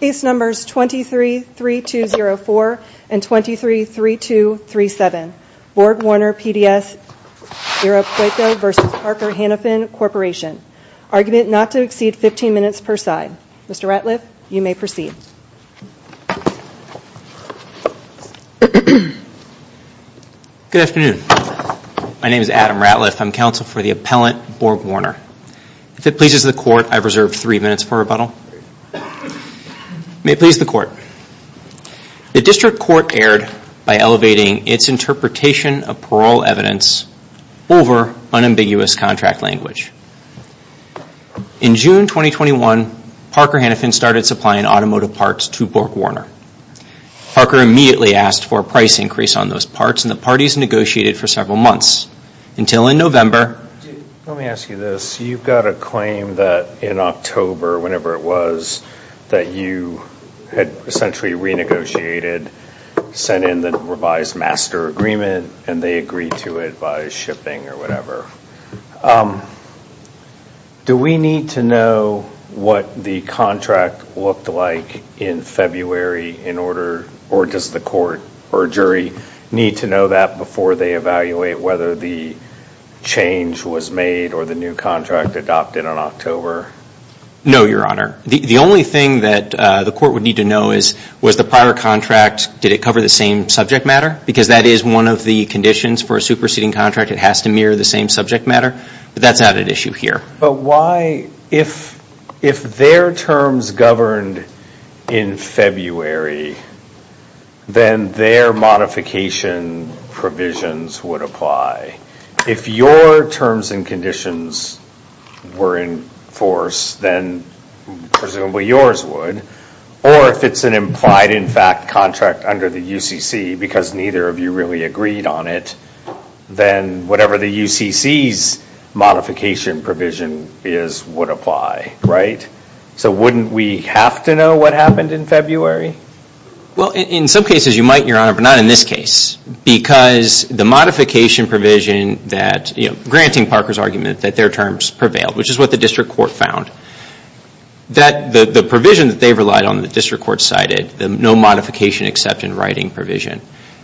Case Numbers 23-3204 and 23-3237 BorgWarner PDS Irapuato v. Parker Hannifin Corporation Argument not to exceed 15 minutes per side. Mr. Ratliff, you may proceed. Good afternoon. My name is Adam Ratliff. I'm counsel for the appellant BorgWarner. If it pleases the court, I've reserved three minutes for rebuttal. May it please the court. The district court erred by elevating its interpretation of parole evidence over unambiguous contract language. In June 2021, Parker Hannifin started supplying automotive parts to BorgWarner. Parker immediately asked for a price increase on those parts and the parties negotiated for several months. Until in November... Let me ask you this. You've got a claim that in October, whenever it was, that you had essentially renegotiated, sent in the revised master agreement and they agreed to it by shipping or whatever. Do we need to know what the contract looked like in February in order, or does the court or jury need to know that before they evaluate whether the change was made or the new contract adopted in October? No, Your Honor. The only thing that the court would need to know is, was the prior contract, did it cover the same subject matter? Because that is one of the conditions for a superseding contract. It has to mirror the same subject matter. But that's not an issue here. But why, if their terms governed in February, then their modification provisions would apply. If your terms and conditions were in force, then presumably yours would. Or if it's an implied in fact contract under the UCC, because neither of you really agreed on it, then whatever the UCC's modification provision is would apply, right? So wouldn't we have to know what happened in February? Well, in some cases you might, Your Honor, but not in this case. Because the modification provision that, granting Parker's argument that their terms prevailed, which is what the district court found, that the provision that they relied on the district court cited, no modification except in writing provision,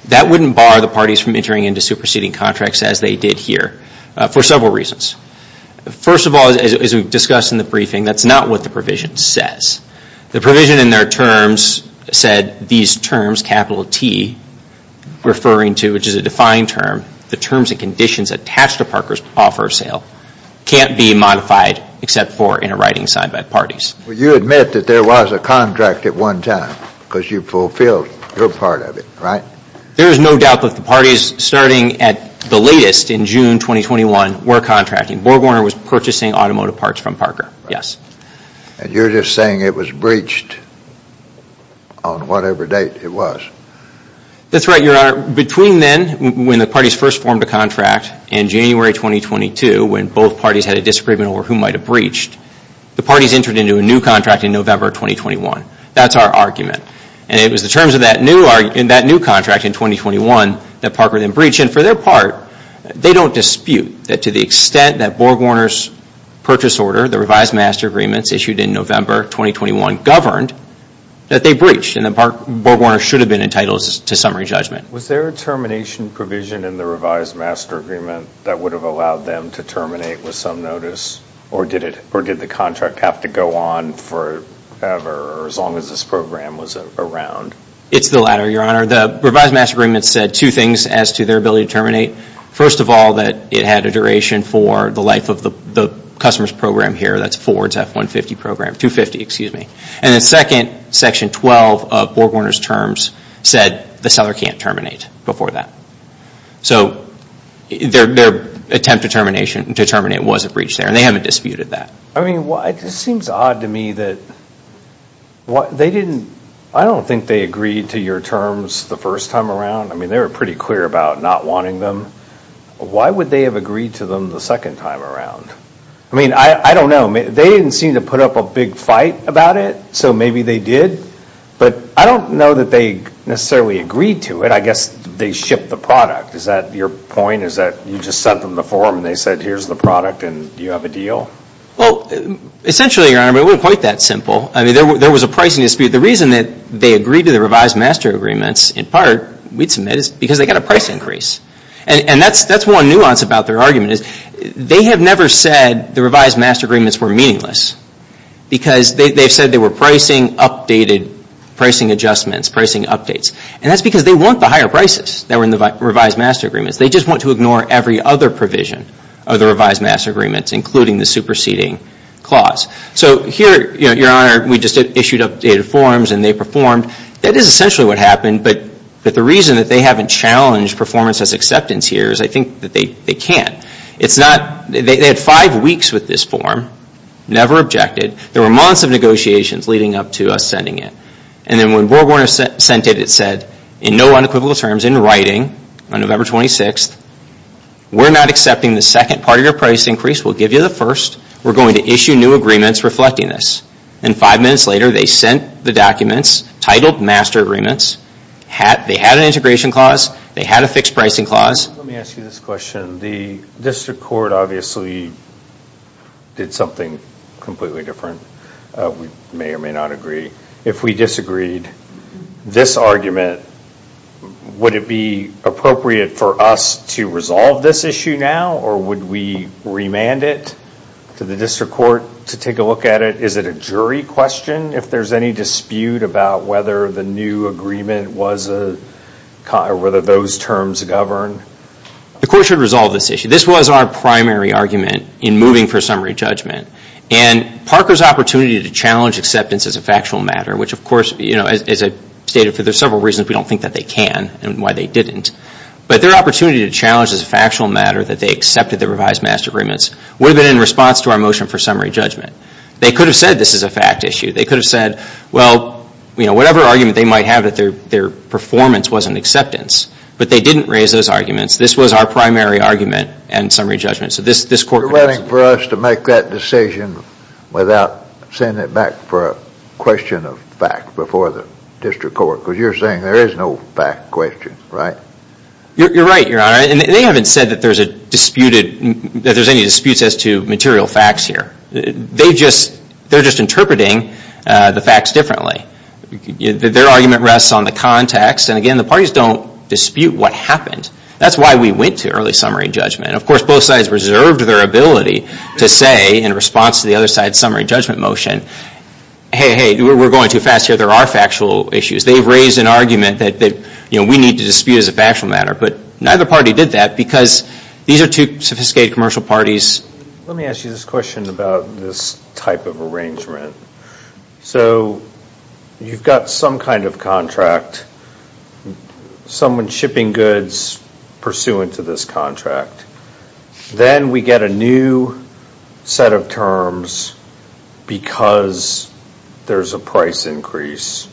that wouldn't bar the parties from entering into superseding contracts as they did here for several reasons. First of all, as we've discussed in the briefing, that's not what the provision says. The provision in their terms said these terms, capital T, referring to, which is a defined term, the terms and conditions attached to Parker's offer of sale can't be modified except for in a writing signed by parties. Well, you admit that there was a contract at one time because you fulfilled your part of it, right? There is no doubt that the parties starting at the latest in June 2021 were contracting. Borgwarner was purchasing automotive parts from Parker, yes. And you're just saying it was breached on whatever date it was? That's right, Your Honor. Between then and when the parties first formed a contract in January 2022 when both parties had a disagreement over who might have breached, the parties entered into a new contract in November 2021. That's our argument. And it was the terms of that new contract in 2021 that Parker then breached. And for their part, they don't dispute that to the extent that Borgwarner's purchase order, the revised master agreements issued in November 2021 governed that they breached and that Borgwarner should have been entitled to summary judgment. Was there a termination provision in the revised master agreement that would have allowed them to terminate with some notice or did the contract have to go on forever as long as this program was around? It's the latter, Your Honor. The revised master agreement said two things as to their ability to terminate. First of all, that it had a duration for the life of the customer's program here, that's Ford's F-150 program, 250, excuse me. And then second, section 12 of Borgwarner's terms said the seller can't terminate before that. So their attempt to terminate was a breach there and they haven't disputed that. It just seems odd to me that they didn't, I don't think they agreed to your terms the first time around. I mean, they were pretty clear about not wanting them. Why would they have agreed to them the second time around? I mean, I don't know. They didn't seem to put up a big fight about it. So maybe they did. But I don't know that they necessarily agreed to it. I guess they shipped the product. Is that your point? Is that you just sent them the form and they said, here's the product and you have a deal? Well, essentially, Your Honor, it wasn't quite that simple. I mean, there was a pricing dispute. The reason that they agreed to the revised master agreements, in part, we'd submit, is because they got a price increase. And that's one nuance about their argument. They have never said the revised master agreements were meaningless because they've said they were pricing updated, pricing adjustments, pricing updates. And that's because they want the higher prices that were in the revised master agreements. They just want to ignore every other provision of the revised master agreements, including the superseding clause. So here, Your Honor, we just issued updated forms and they performed. That is essentially what happened. But the reason that they haven't challenged performance as acceptance here is I think that they can't. It's not, they had five weeks with this form, never objected. There were months of negotiations leading up to us sending it. And then when Board Warner sent it, it said in no unequivocal terms, in writing, on November 26th, we're not accepting the second part of your price increase. We'll give you the first. We're going to issue new agreements reflecting this. And five minutes later, they sent the documents titled master agreements. They had an integration clause. They had a fixed pricing clause. Let me ask you this question. The district court obviously did something completely different. We may or may not agree. If we disagreed, this argument, would it be appropriate for us to resolve this issue now? Or would we remand it to the district court to take a look at it? Is it a jury question if there's any dispute about whether the new agreement was a, whether those terms govern? The court should resolve this issue. This was our primary argument in moving for summary judgment. And Parker's opportunity to challenge acceptance as a factual matter, which of course, as I stated, for several reasons we don't think that they can and why they didn't. But their opportunity to challenge as a factual matter that they accepted the revised master agreements would have been in response to our motion for summary judgment. They could have said this is a fact issue. They could have said, well, whatever argument they might have but their performance wasn't acceptance. But they didn't raise those arguments. This was our primary argument and summary judgment. So this court... You're waiting for us to make that decision without sending it back for a question of fact before the district court. Because you're saying there is no fact question, right? You're right, Your Honor. And they haven't said that there's a disputed, that there's any disputes as to material facts here. They're just interpreting the facts differently. Their argument rests on the context. And again, the parties don't dispute what happened. That's why we went to early summary judgment. Of course, both sides reserved their ability to say in response to the other side's summary judgment motion, hey, hey, we're going too fast here. There are factual issues. They've raised an argument that we need to dispute as a factual matter. But neither party did that because these are two sophisticated commercial parties. Let me ask you this question about this type of arrangement. So you've got some kind of contract, someone shipping goods pursuant to this contract. Then we get a new set of terms because there's a price increase.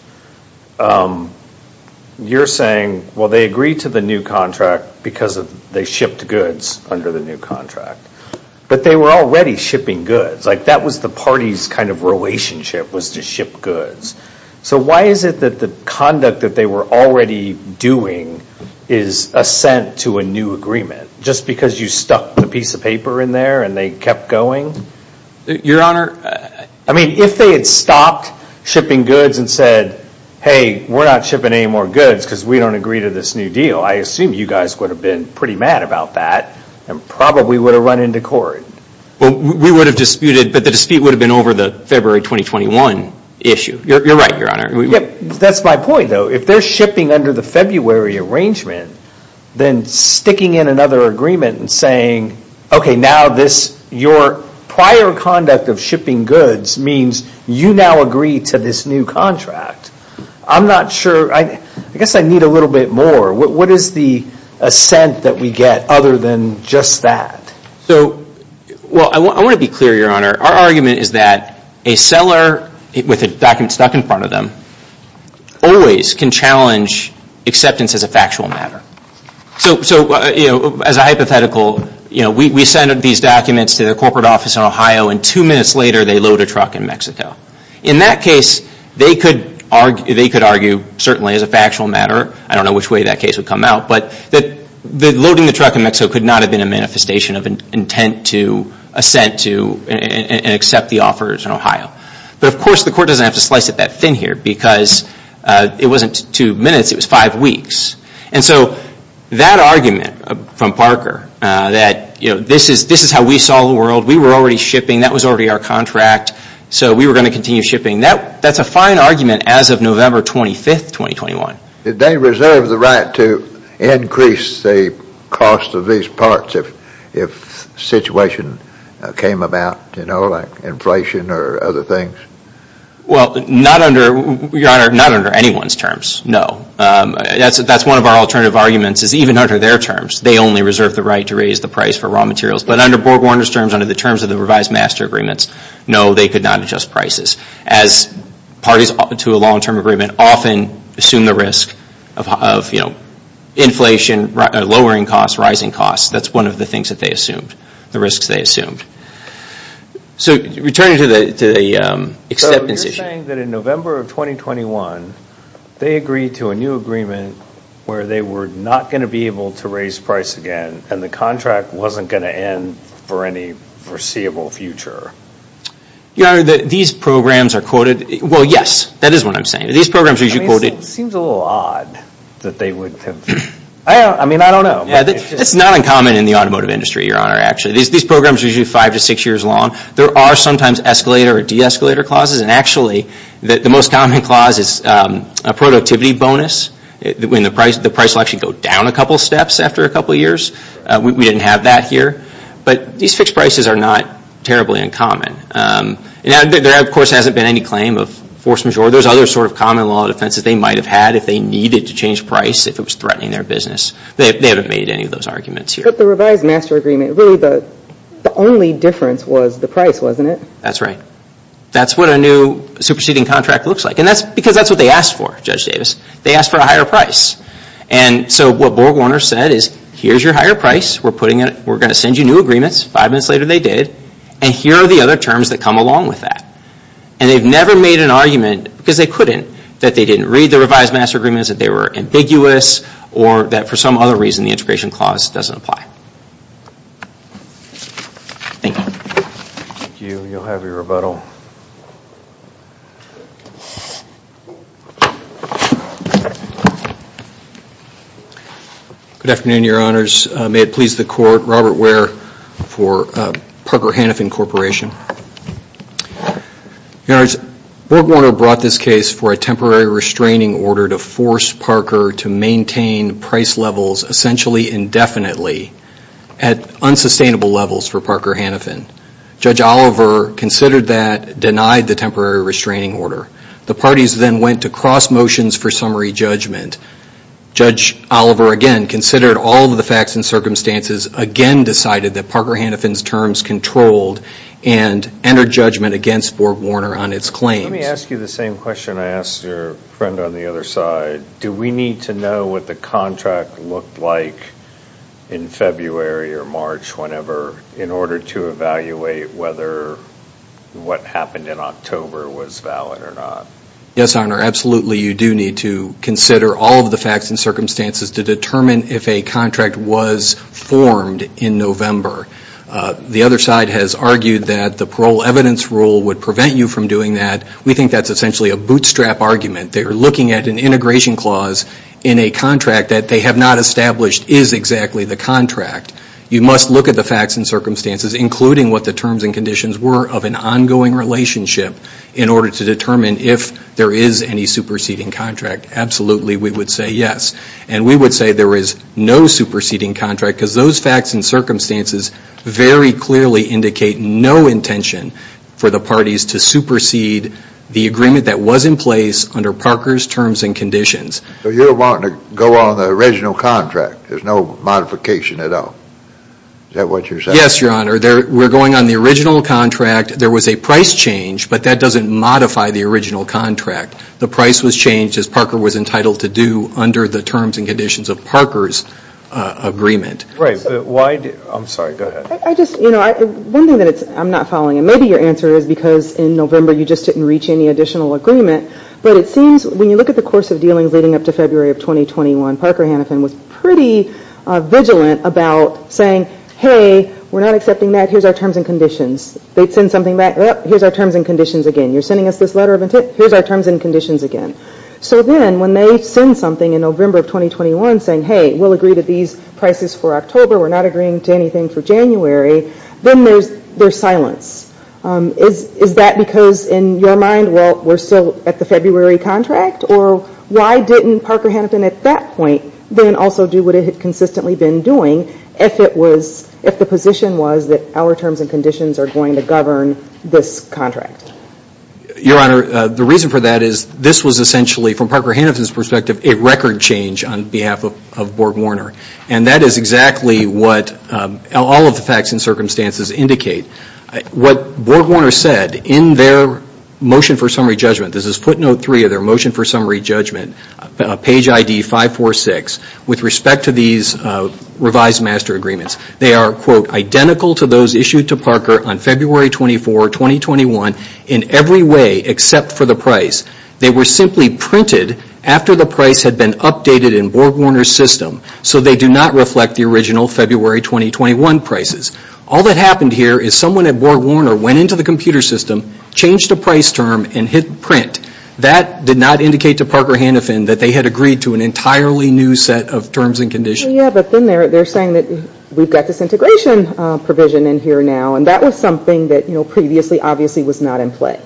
You're saying, well, they agree to the new contract because they shipped goods under the new contract. But they were already shipping goods. Like that was the party's kind of relationship was to ship goods. So why is it that the conduct that they were already doing is assent to a new agreement just because you stuck the piece of paper in there and they kept going? Your Honor, I mean, if they had stopped shipping goods and said, hey, we're not shipping any more goods because we don't agree to this new deal. I assume you guys would have been pretty mad about that and probably would have run into court. We would have disputed, but the dispute would have been over the February 2021 issue. You're right, Your Honor. That's my point, though. If they're shipping under the February arrangement, then sticking in another agreement and saying, okay, now this, your prior conduct of shipping goods means you now agree to this new contract. I'm not sure. I guess I need a little bit more. What is the assent that we get other than just that? Well, I want to be clear, Your Honor. Our argument is that a seller with a document stuck in front of them always can challenge acceptance as a factual matter. So as a hypothetical, we send these documents to the corporate office in Ohio and two minutes later they load a truck in Mexico. In that case, they could argue, certainly as a factual matter, I don't know which way that case would come out, but that loading the truck in Mexico could not have been a manifestation of intent to assent to and accept the offers in Ohio. But of course the court doesn't have to slice it that thin here because it wasn't two minutes, it was five weeks. And so that argument from Parker that this is how we saw the world, we were already shipping, that was already our contract, so we were going to continue shipping, that's a fine argument as of November 25, 2021. Did they reserve the right to increase the cost of these parts if a situation came about, you know, like inflation or other things? Well, Your Honor, not under anyone's terms, no. That's one of our alternative arguments is even under their terms. They only reserve the right to raise the price for raw materials. But under Borg Warner's terms, under the terms of the revised master agreements, no, they could not adjust prices. As parties to a long-term agreement often assume the risk of inflation, lowering costs, rising costs, that's one of the things that they assumed, the risks they assumed. So returning to the acceptance issue. So you're saying that in November of 2021 they agreed to a new agreement where they were not going to be able to raise price again and the contract wasn't going to end for any foreseeable future? Your Honor, these programs are quoted, well, yes, that is what I'm saying. These programs are usually quoted. It seems a little odd that they would have, I mean, I don't know. It's not uncommon in the automotive industry, Your Honor, actually. These programs are usually five to six years long. There are sometimes escalator or de-escalator clauses, and actually the most common clause is a productivity bonus when the price will actually go down a couple of steps after a couple of years. We didn't have that here. But these fixed prices are not terribly uncommon. There, of course, hasn't been any claim of force majeure. There's other sort of common law defenses they might have had if they needed to change price if it was threatening their business. They haven't made any of those arguments here. But the revised master agreement, really the only difference was the price, wasn't it? That's right. That's what a new superseding contract looks like. And that's because that's what they asked for, Judge Davis. They asked for a higher price. So what Board Warner said is, here's your higher price. We're going to send you new agreements. Five minutes later they did. And here are the other terms that come along with that. And they've never made an argument, because they couldn't, that they didn't read the revised master agreements, that they were ambiguous, or that for some other reason the integration clause doesn't apply. Thank you. Thank you. You'll have your rebuttal. Good afternoon, Your Honors. May it please the Court, Robert Ware for Parker Hannafin Corporation. Your Honors, Board Warner brought this case for a temporary restraining order to force Parker to maintain price levels essentially indefinitely at unsustainable levels for Parker Hannafin. Judge Oliver considered that, denied the temporary restraining order. The parties then went to cross motions for summary judgment. Judge Oliver, again, considered all of the facts and circumstances, again decided that Parker Hannafin's terms controlled and entered judgment against Board Warner on its claims. Do we need to know what the contract looked like in February or March, whenever, in order to evaluate whether what happened in October was valid or not? Yes, Your Honor, absolutely you do need to consider all of the facts and circumstances to determine if a contract was formed in November. The other side has argued that the parole evidence rule would prevent you from doing that. We think that's essentially a bootstrap argument. They are looking at an integration clause in a contract that they have not established is exactly the contract. You must look at the facts and circumstances, including what the terms and conditions were of an ongoing relationship, in order to determine if there is any superseding contract. Absolutely we would say yes. And we would say there is no superseding contract, because those facts and circumstances very clearly indicate no intention for the parties to supersede the agreement that was in place under Parker's terms and conditions. So you're wanting to go on the original contract. There's no modification at all. Is that what you're saying? Yes, Your Honor. We're going on the original contract. There was a price change, but that doesn't modify the original contract. The price was changed, as Parker was entitled to do, under the terms and conditions of Parker's agreement. I'm sorry, go ahead. One thing that I'm not following, and maybe your answer is because in November you just didn't reach any additional agreement, but it seems when you look at the course of dealings leading up to February of 2021, Parker Hannafin was pretty vigilant about saying, hey, we're not accepting that, here's our terms and conditions. They'd send something back, here's our terms and conditions again. You're sending us this letter of intent, here's our terms and conditions again. So then when they send something in November of 2021 saying, hey, we'll agree to these prices for October, we're not agreeing to anything for January, then there's silence. Is that because in your mind, well, we're still at the February contract? Or why didn't Parker Hannafin at that point then also do what it had consistently been doing if the position was that our terms and conditions are going to govern this contract? Your Honor, the reason for that is this was essentially, from Parker Hannafin's perspective, a record change on behalf of Board Warner. And that is exactly what all of the facts and circumstances indicate. What Board Warner said in their motion for summary judgment, this is footnote three of their motion for summary judgment, page ID 546, with respect to these revised master agreements. They are identical to those issued to Parker on February 24, 2021 in every way except for the price. They were simply printed after the price had been updated in Board Warner's system. So they do not reflect the original February 2021 prices. All that happened here is someone at Board Warner went into the computer system, changed the price term, and hit print. That did not indicate to Parker Hannafin that they had agreed to an entirely new set of terms and conditions. Yeah, but then they're saying that we've got this integration provision in here now. And that was something that previously obviously was not in play.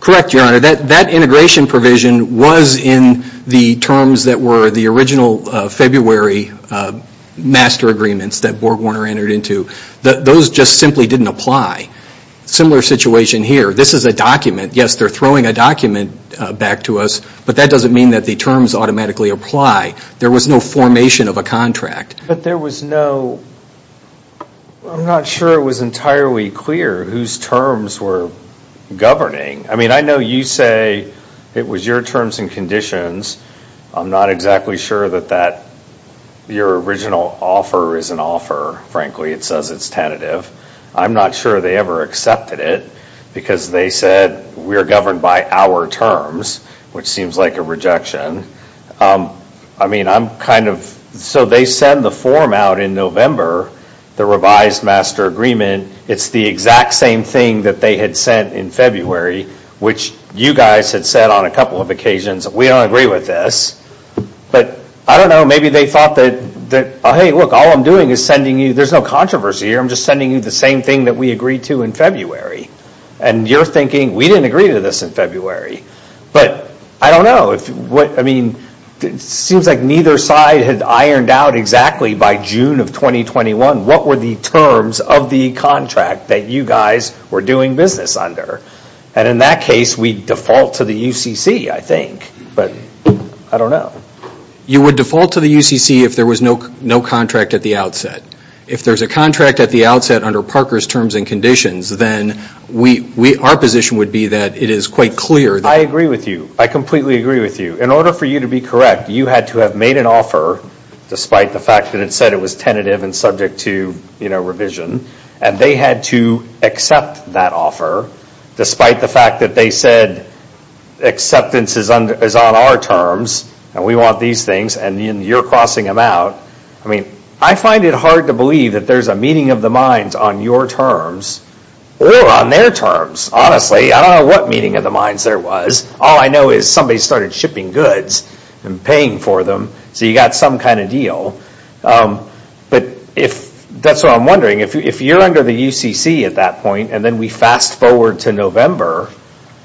Correct, Your Honor. That integration provision was in the terms that were the original February master agreements that Board Warner entered into. Those just simply didn't apply. Similar situation here. This is a document. Yes, they're throwing a document back to us. But that doesn't mean that the terms automatically apply. There was no formation of a contract. But there was no I'm not sure it was entirely clear whose terms were governing. I mean, I know you say it was your terms and conditions. I'm not exactly sure that that your original offer is an offer. Frankly, it says it's tentative. I'm not sure they ever accepted it because they said we are governed by our terms, which seems like a rejection. I mean, I'm kind of so they send the form out in November, the revised master agreement, it's the exact same thing that they had sent in February, which you guys had said on a couple of occasions, we don't agree with this. But I don't know, maybe they thought that, hey, look, all I'm doing is sending you, there's no controversy here, I'm just sending you the same thing that we agreed to in February. And you're thinking, we didn't agree to this in February. But I don't know. I mean, it seems like neither side had ironed out exactly by June of 2021 what were the terms of the contract that you guys were doing business under. And in that case, we default to the UCC, I think. But I don't know. You would default to the UCC if there was no contract at the outset. If there's a contract at the outset under Parker's terms and conditions, then our position would be that it is quite clear. I agree with you. I completely agree with you. In order for you to be correct, you had to have made an offer, despite the fact that it said it was tentative and subject to revision, and they had to accept that offer, despite the fact that they said acceptance is on our terms, and we want these things, and you're crossing them out. I mean, I find it hard to believe that there's a meeting of the minds on your terms or on their terms, honestly. I don't know what meeting of the minds there was. All I know is somebody started shipping goods and paying for them, so you got some kind of deal. But that's what I'm wondering. If you're under the UCC at that point, and then we fast forward to November,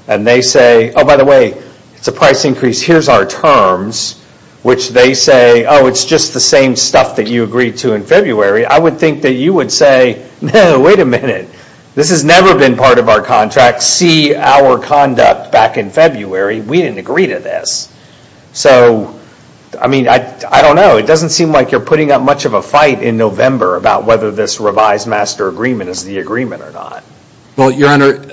and they say, oh, by the way, it's a price increase. Here's our terms, which they say, oh, it's just the same stuff that you agreed to in February, I would think that you would say, no, wait a minute. This has never been part of our contract. See our conduct back in February. We didn't agree to this. So, I mean, I don't know. It doesn't seem like you're putting up much of a fight in November about whether this revised master agreement is the agreement or not. Well, Your Honor,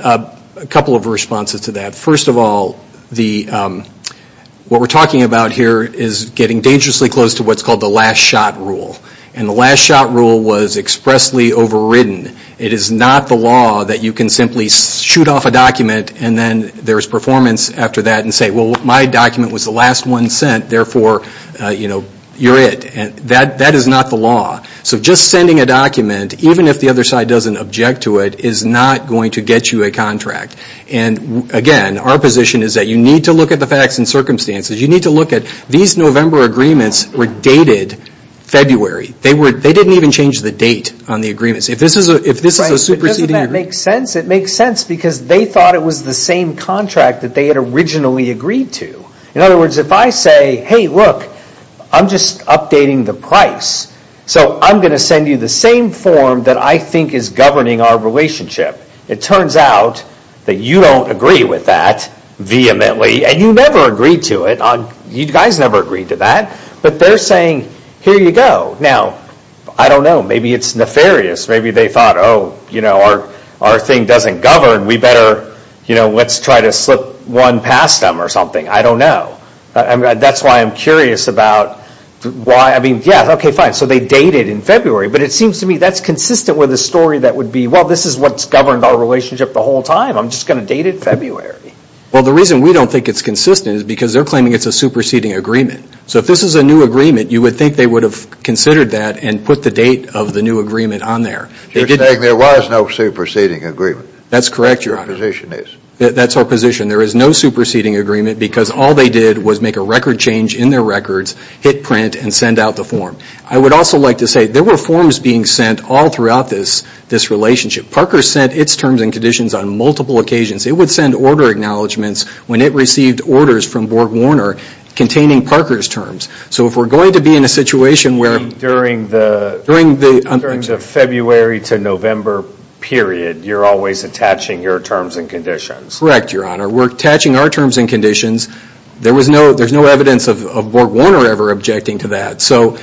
a couple of responses to that. First of all, what we're talking about here is getting dangerously close to what's called the last shot rule. And the last shot rule was expressly overridden. It is not the law that you can simply shoot off a document and then there's performance after that and say, well, my document was the last one sent, therefore, you're it. That is not the law. So just sending a document, even if the other side doesn't object to it, is not going to get you a contract. And again, our position is that you need to look at the facts and circumstances. You need to look at these November agreements were dated February. They didn't even change the date on the agreements. If this is a superseding agreement. Right, but doesn't that make sense? It makes sense because they thought it was the same contract that they had originally agreed to. In other words, if I say, hey, look, I'm just updating the price. So I'm going to send you the same form that I think is governing our relationship. It turns out that you don't agree with that vehemently. And you never agreed to it. You guys never agreed to that. But they're saying here you go. Now, I don't know. Maybe it's nefarious. Maybe they thought, oh, you know, our thing doesn't govern. We better, you know, let's try to slip one past them or something. I don't know. That's why I'm curious about why. I mean, yeah, OK, fine. So they dated in February. But it seems to me that's consistent with a story that would be, well, this is what's governed our relationship the whole time. I'm just going to date it February. Well, the reason we don't think it's consistent is because they're claiming it's a superseding agreement. So if this is a new agreement, you would think they would have considered that and put the date of the new agreement on there. You're saying there was no superseding agreement. That's correct, Your Honor. That's our position. There is no superseding agreement because all they did was make a record change in their records, hit print, and send out the form. I would also like to say there were forms being sent all throughout this relationship. Parker sent its terms and conditions on multiple occasions. It would send order acknowledgments when it received orders from Borg Warner containing Parker's terms. So if we're going to be in a situation where... During the February to November period, you're always attaching your terms and conditions. Correct, Your Honor. We're attaching our terms and conditions. There's no evidence of Borg Warner ever objecting to that. So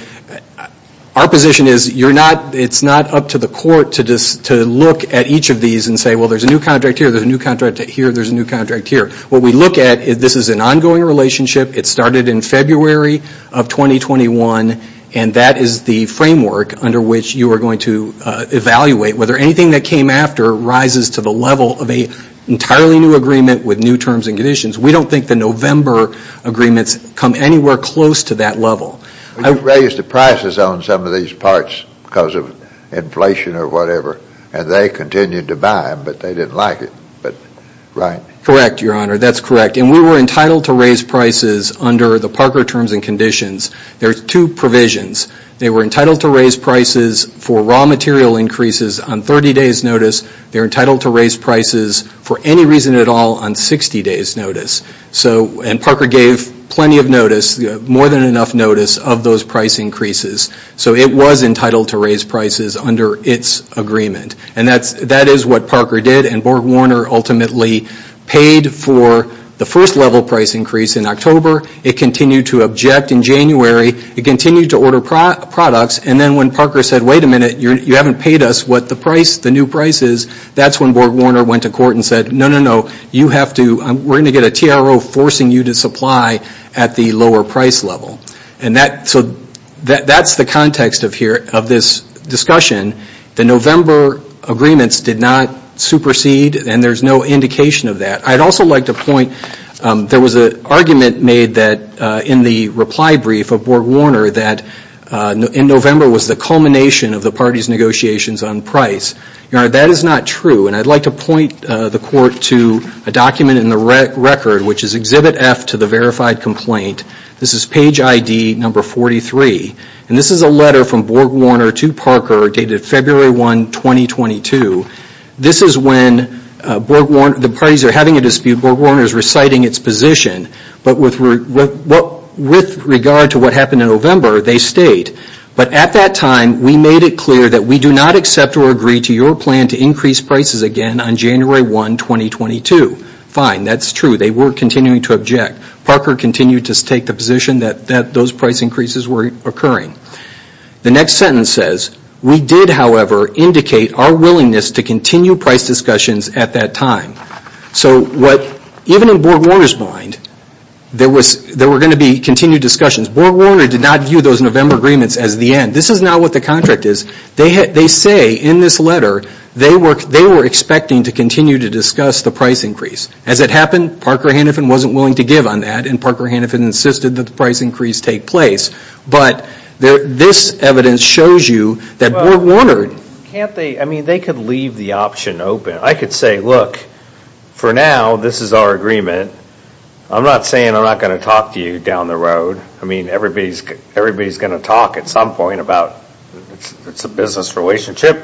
our position is it's not up to the court to look at each of these and say, well, there's a new contract here, there's a new contract here, there's a new contract here. What we look at is this is an ongoing relationship. It started in February of 2021 and that is the framework under which you are going to evaluate whether anything that came after rises to the level of an entirely new agreement with new terms and conditions. We don't think the November agreements come anywhere close to that level. You raised the prices on some of these parts because of inflation or whatever and they continued to buy them, but they didn't like it, right? Correct, Your Honor. That's correct. And we were entitled to raise prices under the Parker terms and conditions. There's two provisions. They were entitled to raise prices for raw material increases on 30 days notice. They're entitled to raise prices for any reason at all on 60 days notice. So, and Parker gave plenty of notice, more than enough notice of those price increases. So it was entitled to raise prices under its agreement. And that is what Parker did and Borg Warner ultimately paid for the first level price increase in October. It continued to object in January. It continued to order products and then when Parker said, wait a minute, you haven't paid us what the price, the new price is, that's when Borg Warner went to court and said, no, no, no, you have to, we're going to get a TRO forcing you to supply at the lower price level. And so that's the context of this discussion. The November agreements did not supersede and there's no indication of that. I'd also like to point, there was an argument made that in the reply brief of Borg Warner that in November was the culmination of the party's negotiations on price. That is not true. And I'd like to point the court to a document in the record which is Exhibit F to the verified complaint. This is page ID number 43. And this is a letter from Borg Warner to Parker dated February 1, 2022. This is when the parties are having a dispute. Borg Warner is reciting its position. But with regard to what happened in November, they state, but at that time we made it clear that we do not accept or agree to your plan to increase prices again on January 1, 2022. Fine, that's true. They were continuing to object. Parker continued to take the position that those price increases were occurring. The next sentence says, we did, however, indicate our willingness to continue price discussions at that time. So even in Borg Warner's mind, there were going to be continued discussions. Borg Warner did not view those November agreements as the end. This is now what the contract is. They say in this letter, they were expecting to continue to discuss the price increase. As it happened, Parker Hanifin wasn't willing to give on that, and Parker Hanifin insisted that the price increase take place. But this evidence shows you that Borg Warner... I could say, look, for now, this is our agreement. I'm not saying I'm not going to talk to you down the road. I mean, everybody's going to talk at some point about it's a business relationship.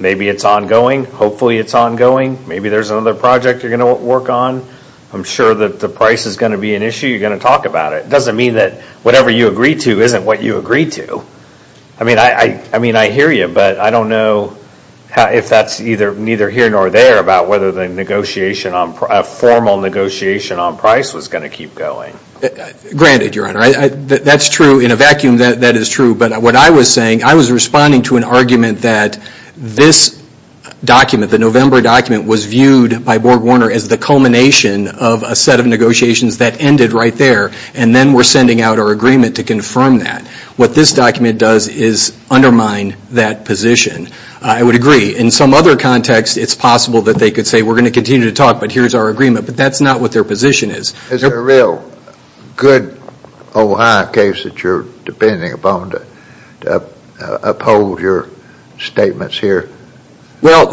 Maybe it's ongoing. Hopefully it's ongoing. Maybe there's another project you're going to work on. I'm sure that the price is going to be an issue. You're going to talk about it. It doesn't mean that whatever you agree to isn't what you agree to. I mean, I hear you, but I don't know if that's neither here nor there about whether the formal negotiation on price was going to keep going. Granted, Your Honor. That's true. In a vacuum, that is true. But what I was saying, I was responding to an argument that this document, the November document, was viewed by Borg Warner as the culmination of a set of negotiations that ended right there, and then we're sending out our agreement to confirm that. What this document does is undermine that position. I would agree. In some other context, it's possible that they could say, we're going to continue to talk, but here's our agreement. But that's not what their position is. Is there a real good Ohio case that you're depending upon to uphold your statements here? Well,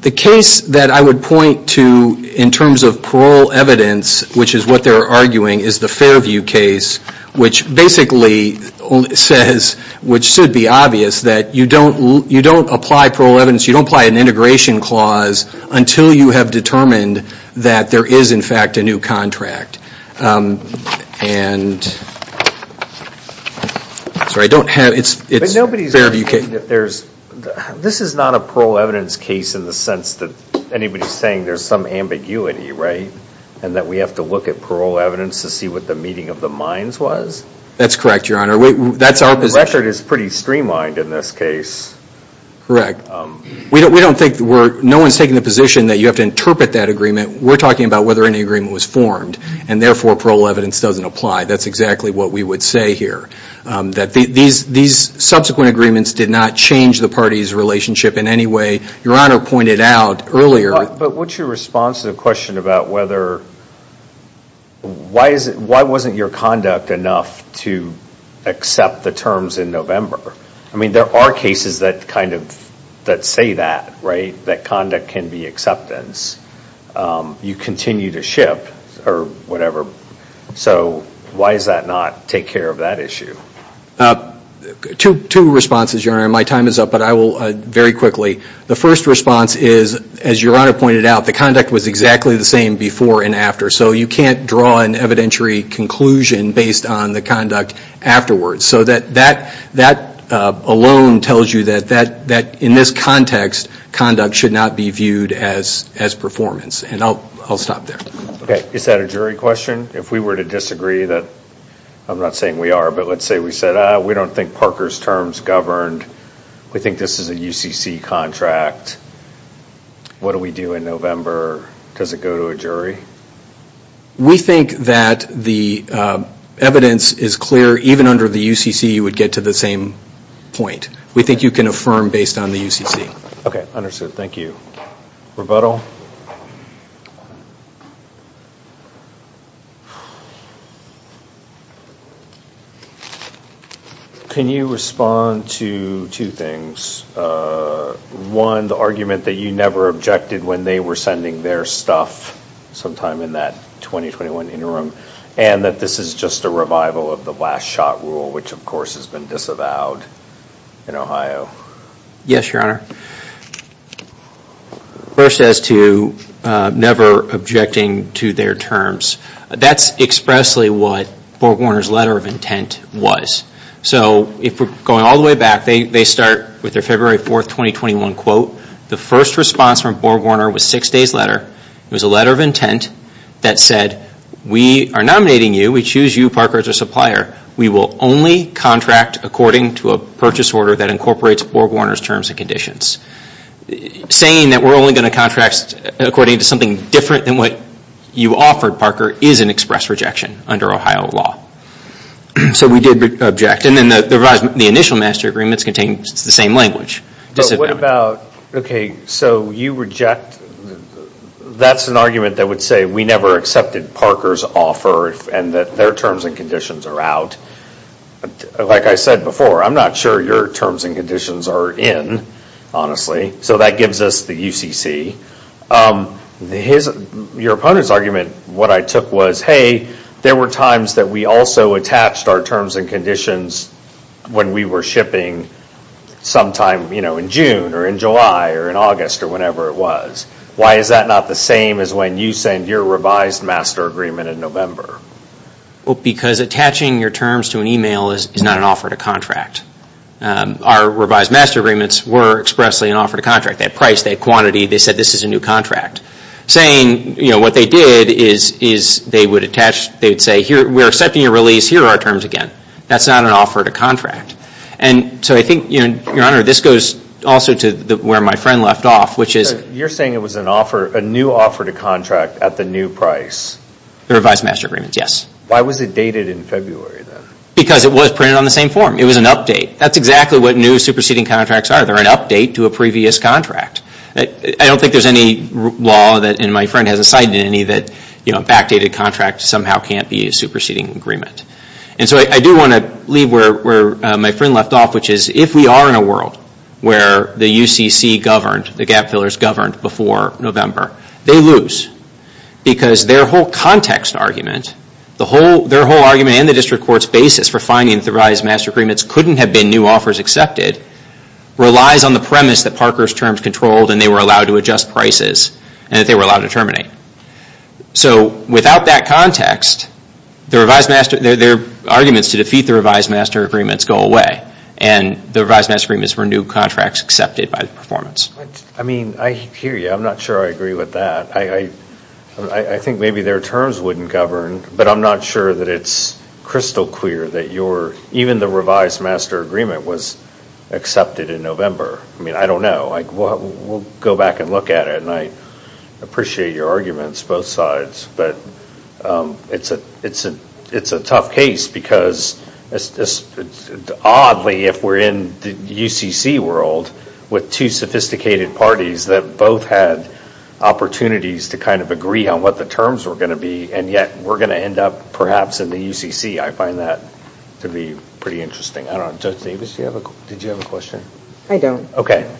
the case that I would point to in terms of parole evidence, which is what they're arguing, is the Fairview case, which basically says, which should be obvious, that you don't apply parole evidence, you don't apply an integration clause until you have determined that there is, in fact, a new contract. This is not a parole evidence case in the sense that anybody's saying there's some ambiguity, right? And that we have to look at parole evidence to see what the meeting of the minds was? That's correct, Your Honor. The record is pretty streamlined in this case. Correct. We're talking about whether any agreement was formed, and therefore parole evidence doesn't apply. That's exactly what we would say here. Your Honor pointed out earlier... But what's your response to the question about why wasn't your conduct enough to accept the terms in November? I mean, there are cases that say that, right? That conduct can be acceptance. You continue to ship, or whatever. So why does that not take care of that issue? Two responses, Your Honor. My time is up, but I will very quickly... The first response is, as Your Honor pointed out, the conduct was exactly the same before and after. So you can't draw an evidentiary conclusion based on the conduct afterwards. So that alone tells you that, in this context, conduct should not be viewed as performance. And I'll stop there. Is that a jury question? If we were to disagree that... I'm not saying we are, but let's say we said, we don't think Parker's terms governed. We think this is a UCC contract. What do we do in November? Does it go to a jury? We think that the evidence is clear even under the UCC. You would get to the same point. We think you can affirm based on the UCC. Okay. Understood. Thank you. Rebuttal? Can you respond to two things? One, the argument that you never objected when they were sending their stuff sometime in that 2021 interim, and that this is just a revival of the last shot rule, which, of course, has been disavowed in Ohio. Yes, Your Honor. First, as to never objecting to their terms, that's expressly what BorgWarner's letter of intent was. Going all the way back, they start with their February 4, 2021 quote. The first response from BorgWarner was six days later. It was a letter of intent that said, we are nominating you. We choose you, Parker, as our supplier. We will only contract according to a purchase order that incorporates BorgWarner's terms and conditions. Saying that we are only going to contract according to something different than what you offered, Parker, is an express rejection under Ohio law. We did object. The initial master agreements contained the same language. What about, okay, so you reject, that's an argument that would say we never accepted Parker's offer and that their terms and conditions are out. Like I said before, I'm not sure your terms and conditions are in, honestly, so that gives us the UCC. Your opponent's argument, what I took was, hey, there were times that we also attached our terms and conditions when we were shipping sometime in June or in July or in August or whenever it was. Why is that not the same as when you signed your revised master agreement in November? Because attaching your terms to an email is not an offer to contract. Our revised master agreements were expressly an offer to contract. They had price, they had quantity, they said this is a new contract. Saying what they did is they would attach, they would say, we are accepting your release, here are our terms again. That's not an offer to contract. So I think, Your Honor, this goes also to where my friend left off. You're saying it was an offer, a new offer to contract at the new price? The revised master agreements, yes. Why was it dated in February then? Because it was printed on the same form. It was an update. That's exactly what new superseding contracts are. They're an update to a previous contract. I don't think there's any law, and my friend hasn't cited any, that backdated contracts somehow can't be a superseding agreement. And so I do want to leave where my friend left off, which is if we are in a world where the UCC governed, the gap fillers governed before November, they lose. Because their whole context argument, their whole argument and the district court's basis for finding that the revised master agreements couldn't have been new offers accepted relies on the premise that Parker's terms controlled and they were allowed to adjust prices and that they were allowed to terminate. So without that context, their arguments to defeat the revised master agreements go away. And the revised master agreements were new contracts accepted by the performance. I hear you. I'm not sure I agree with that. I think maybe their terms wouldn't govern, but I'm not sure that it's crystal clear that even the revised master agreement was accepted in November. I don't know. We'll go back and look at it. And I appreciate your arguments, both sides. But it's a tough case, because oddly, if we're in the UCC world with two sophisticated parties that both had opportunities to kind of agree on what the terms were going to be, and yet we're going to end up perhaps in the UCC, I find that to be pretty interesting. Judge Davis, did you have a question? I don't. Okay. Thank you.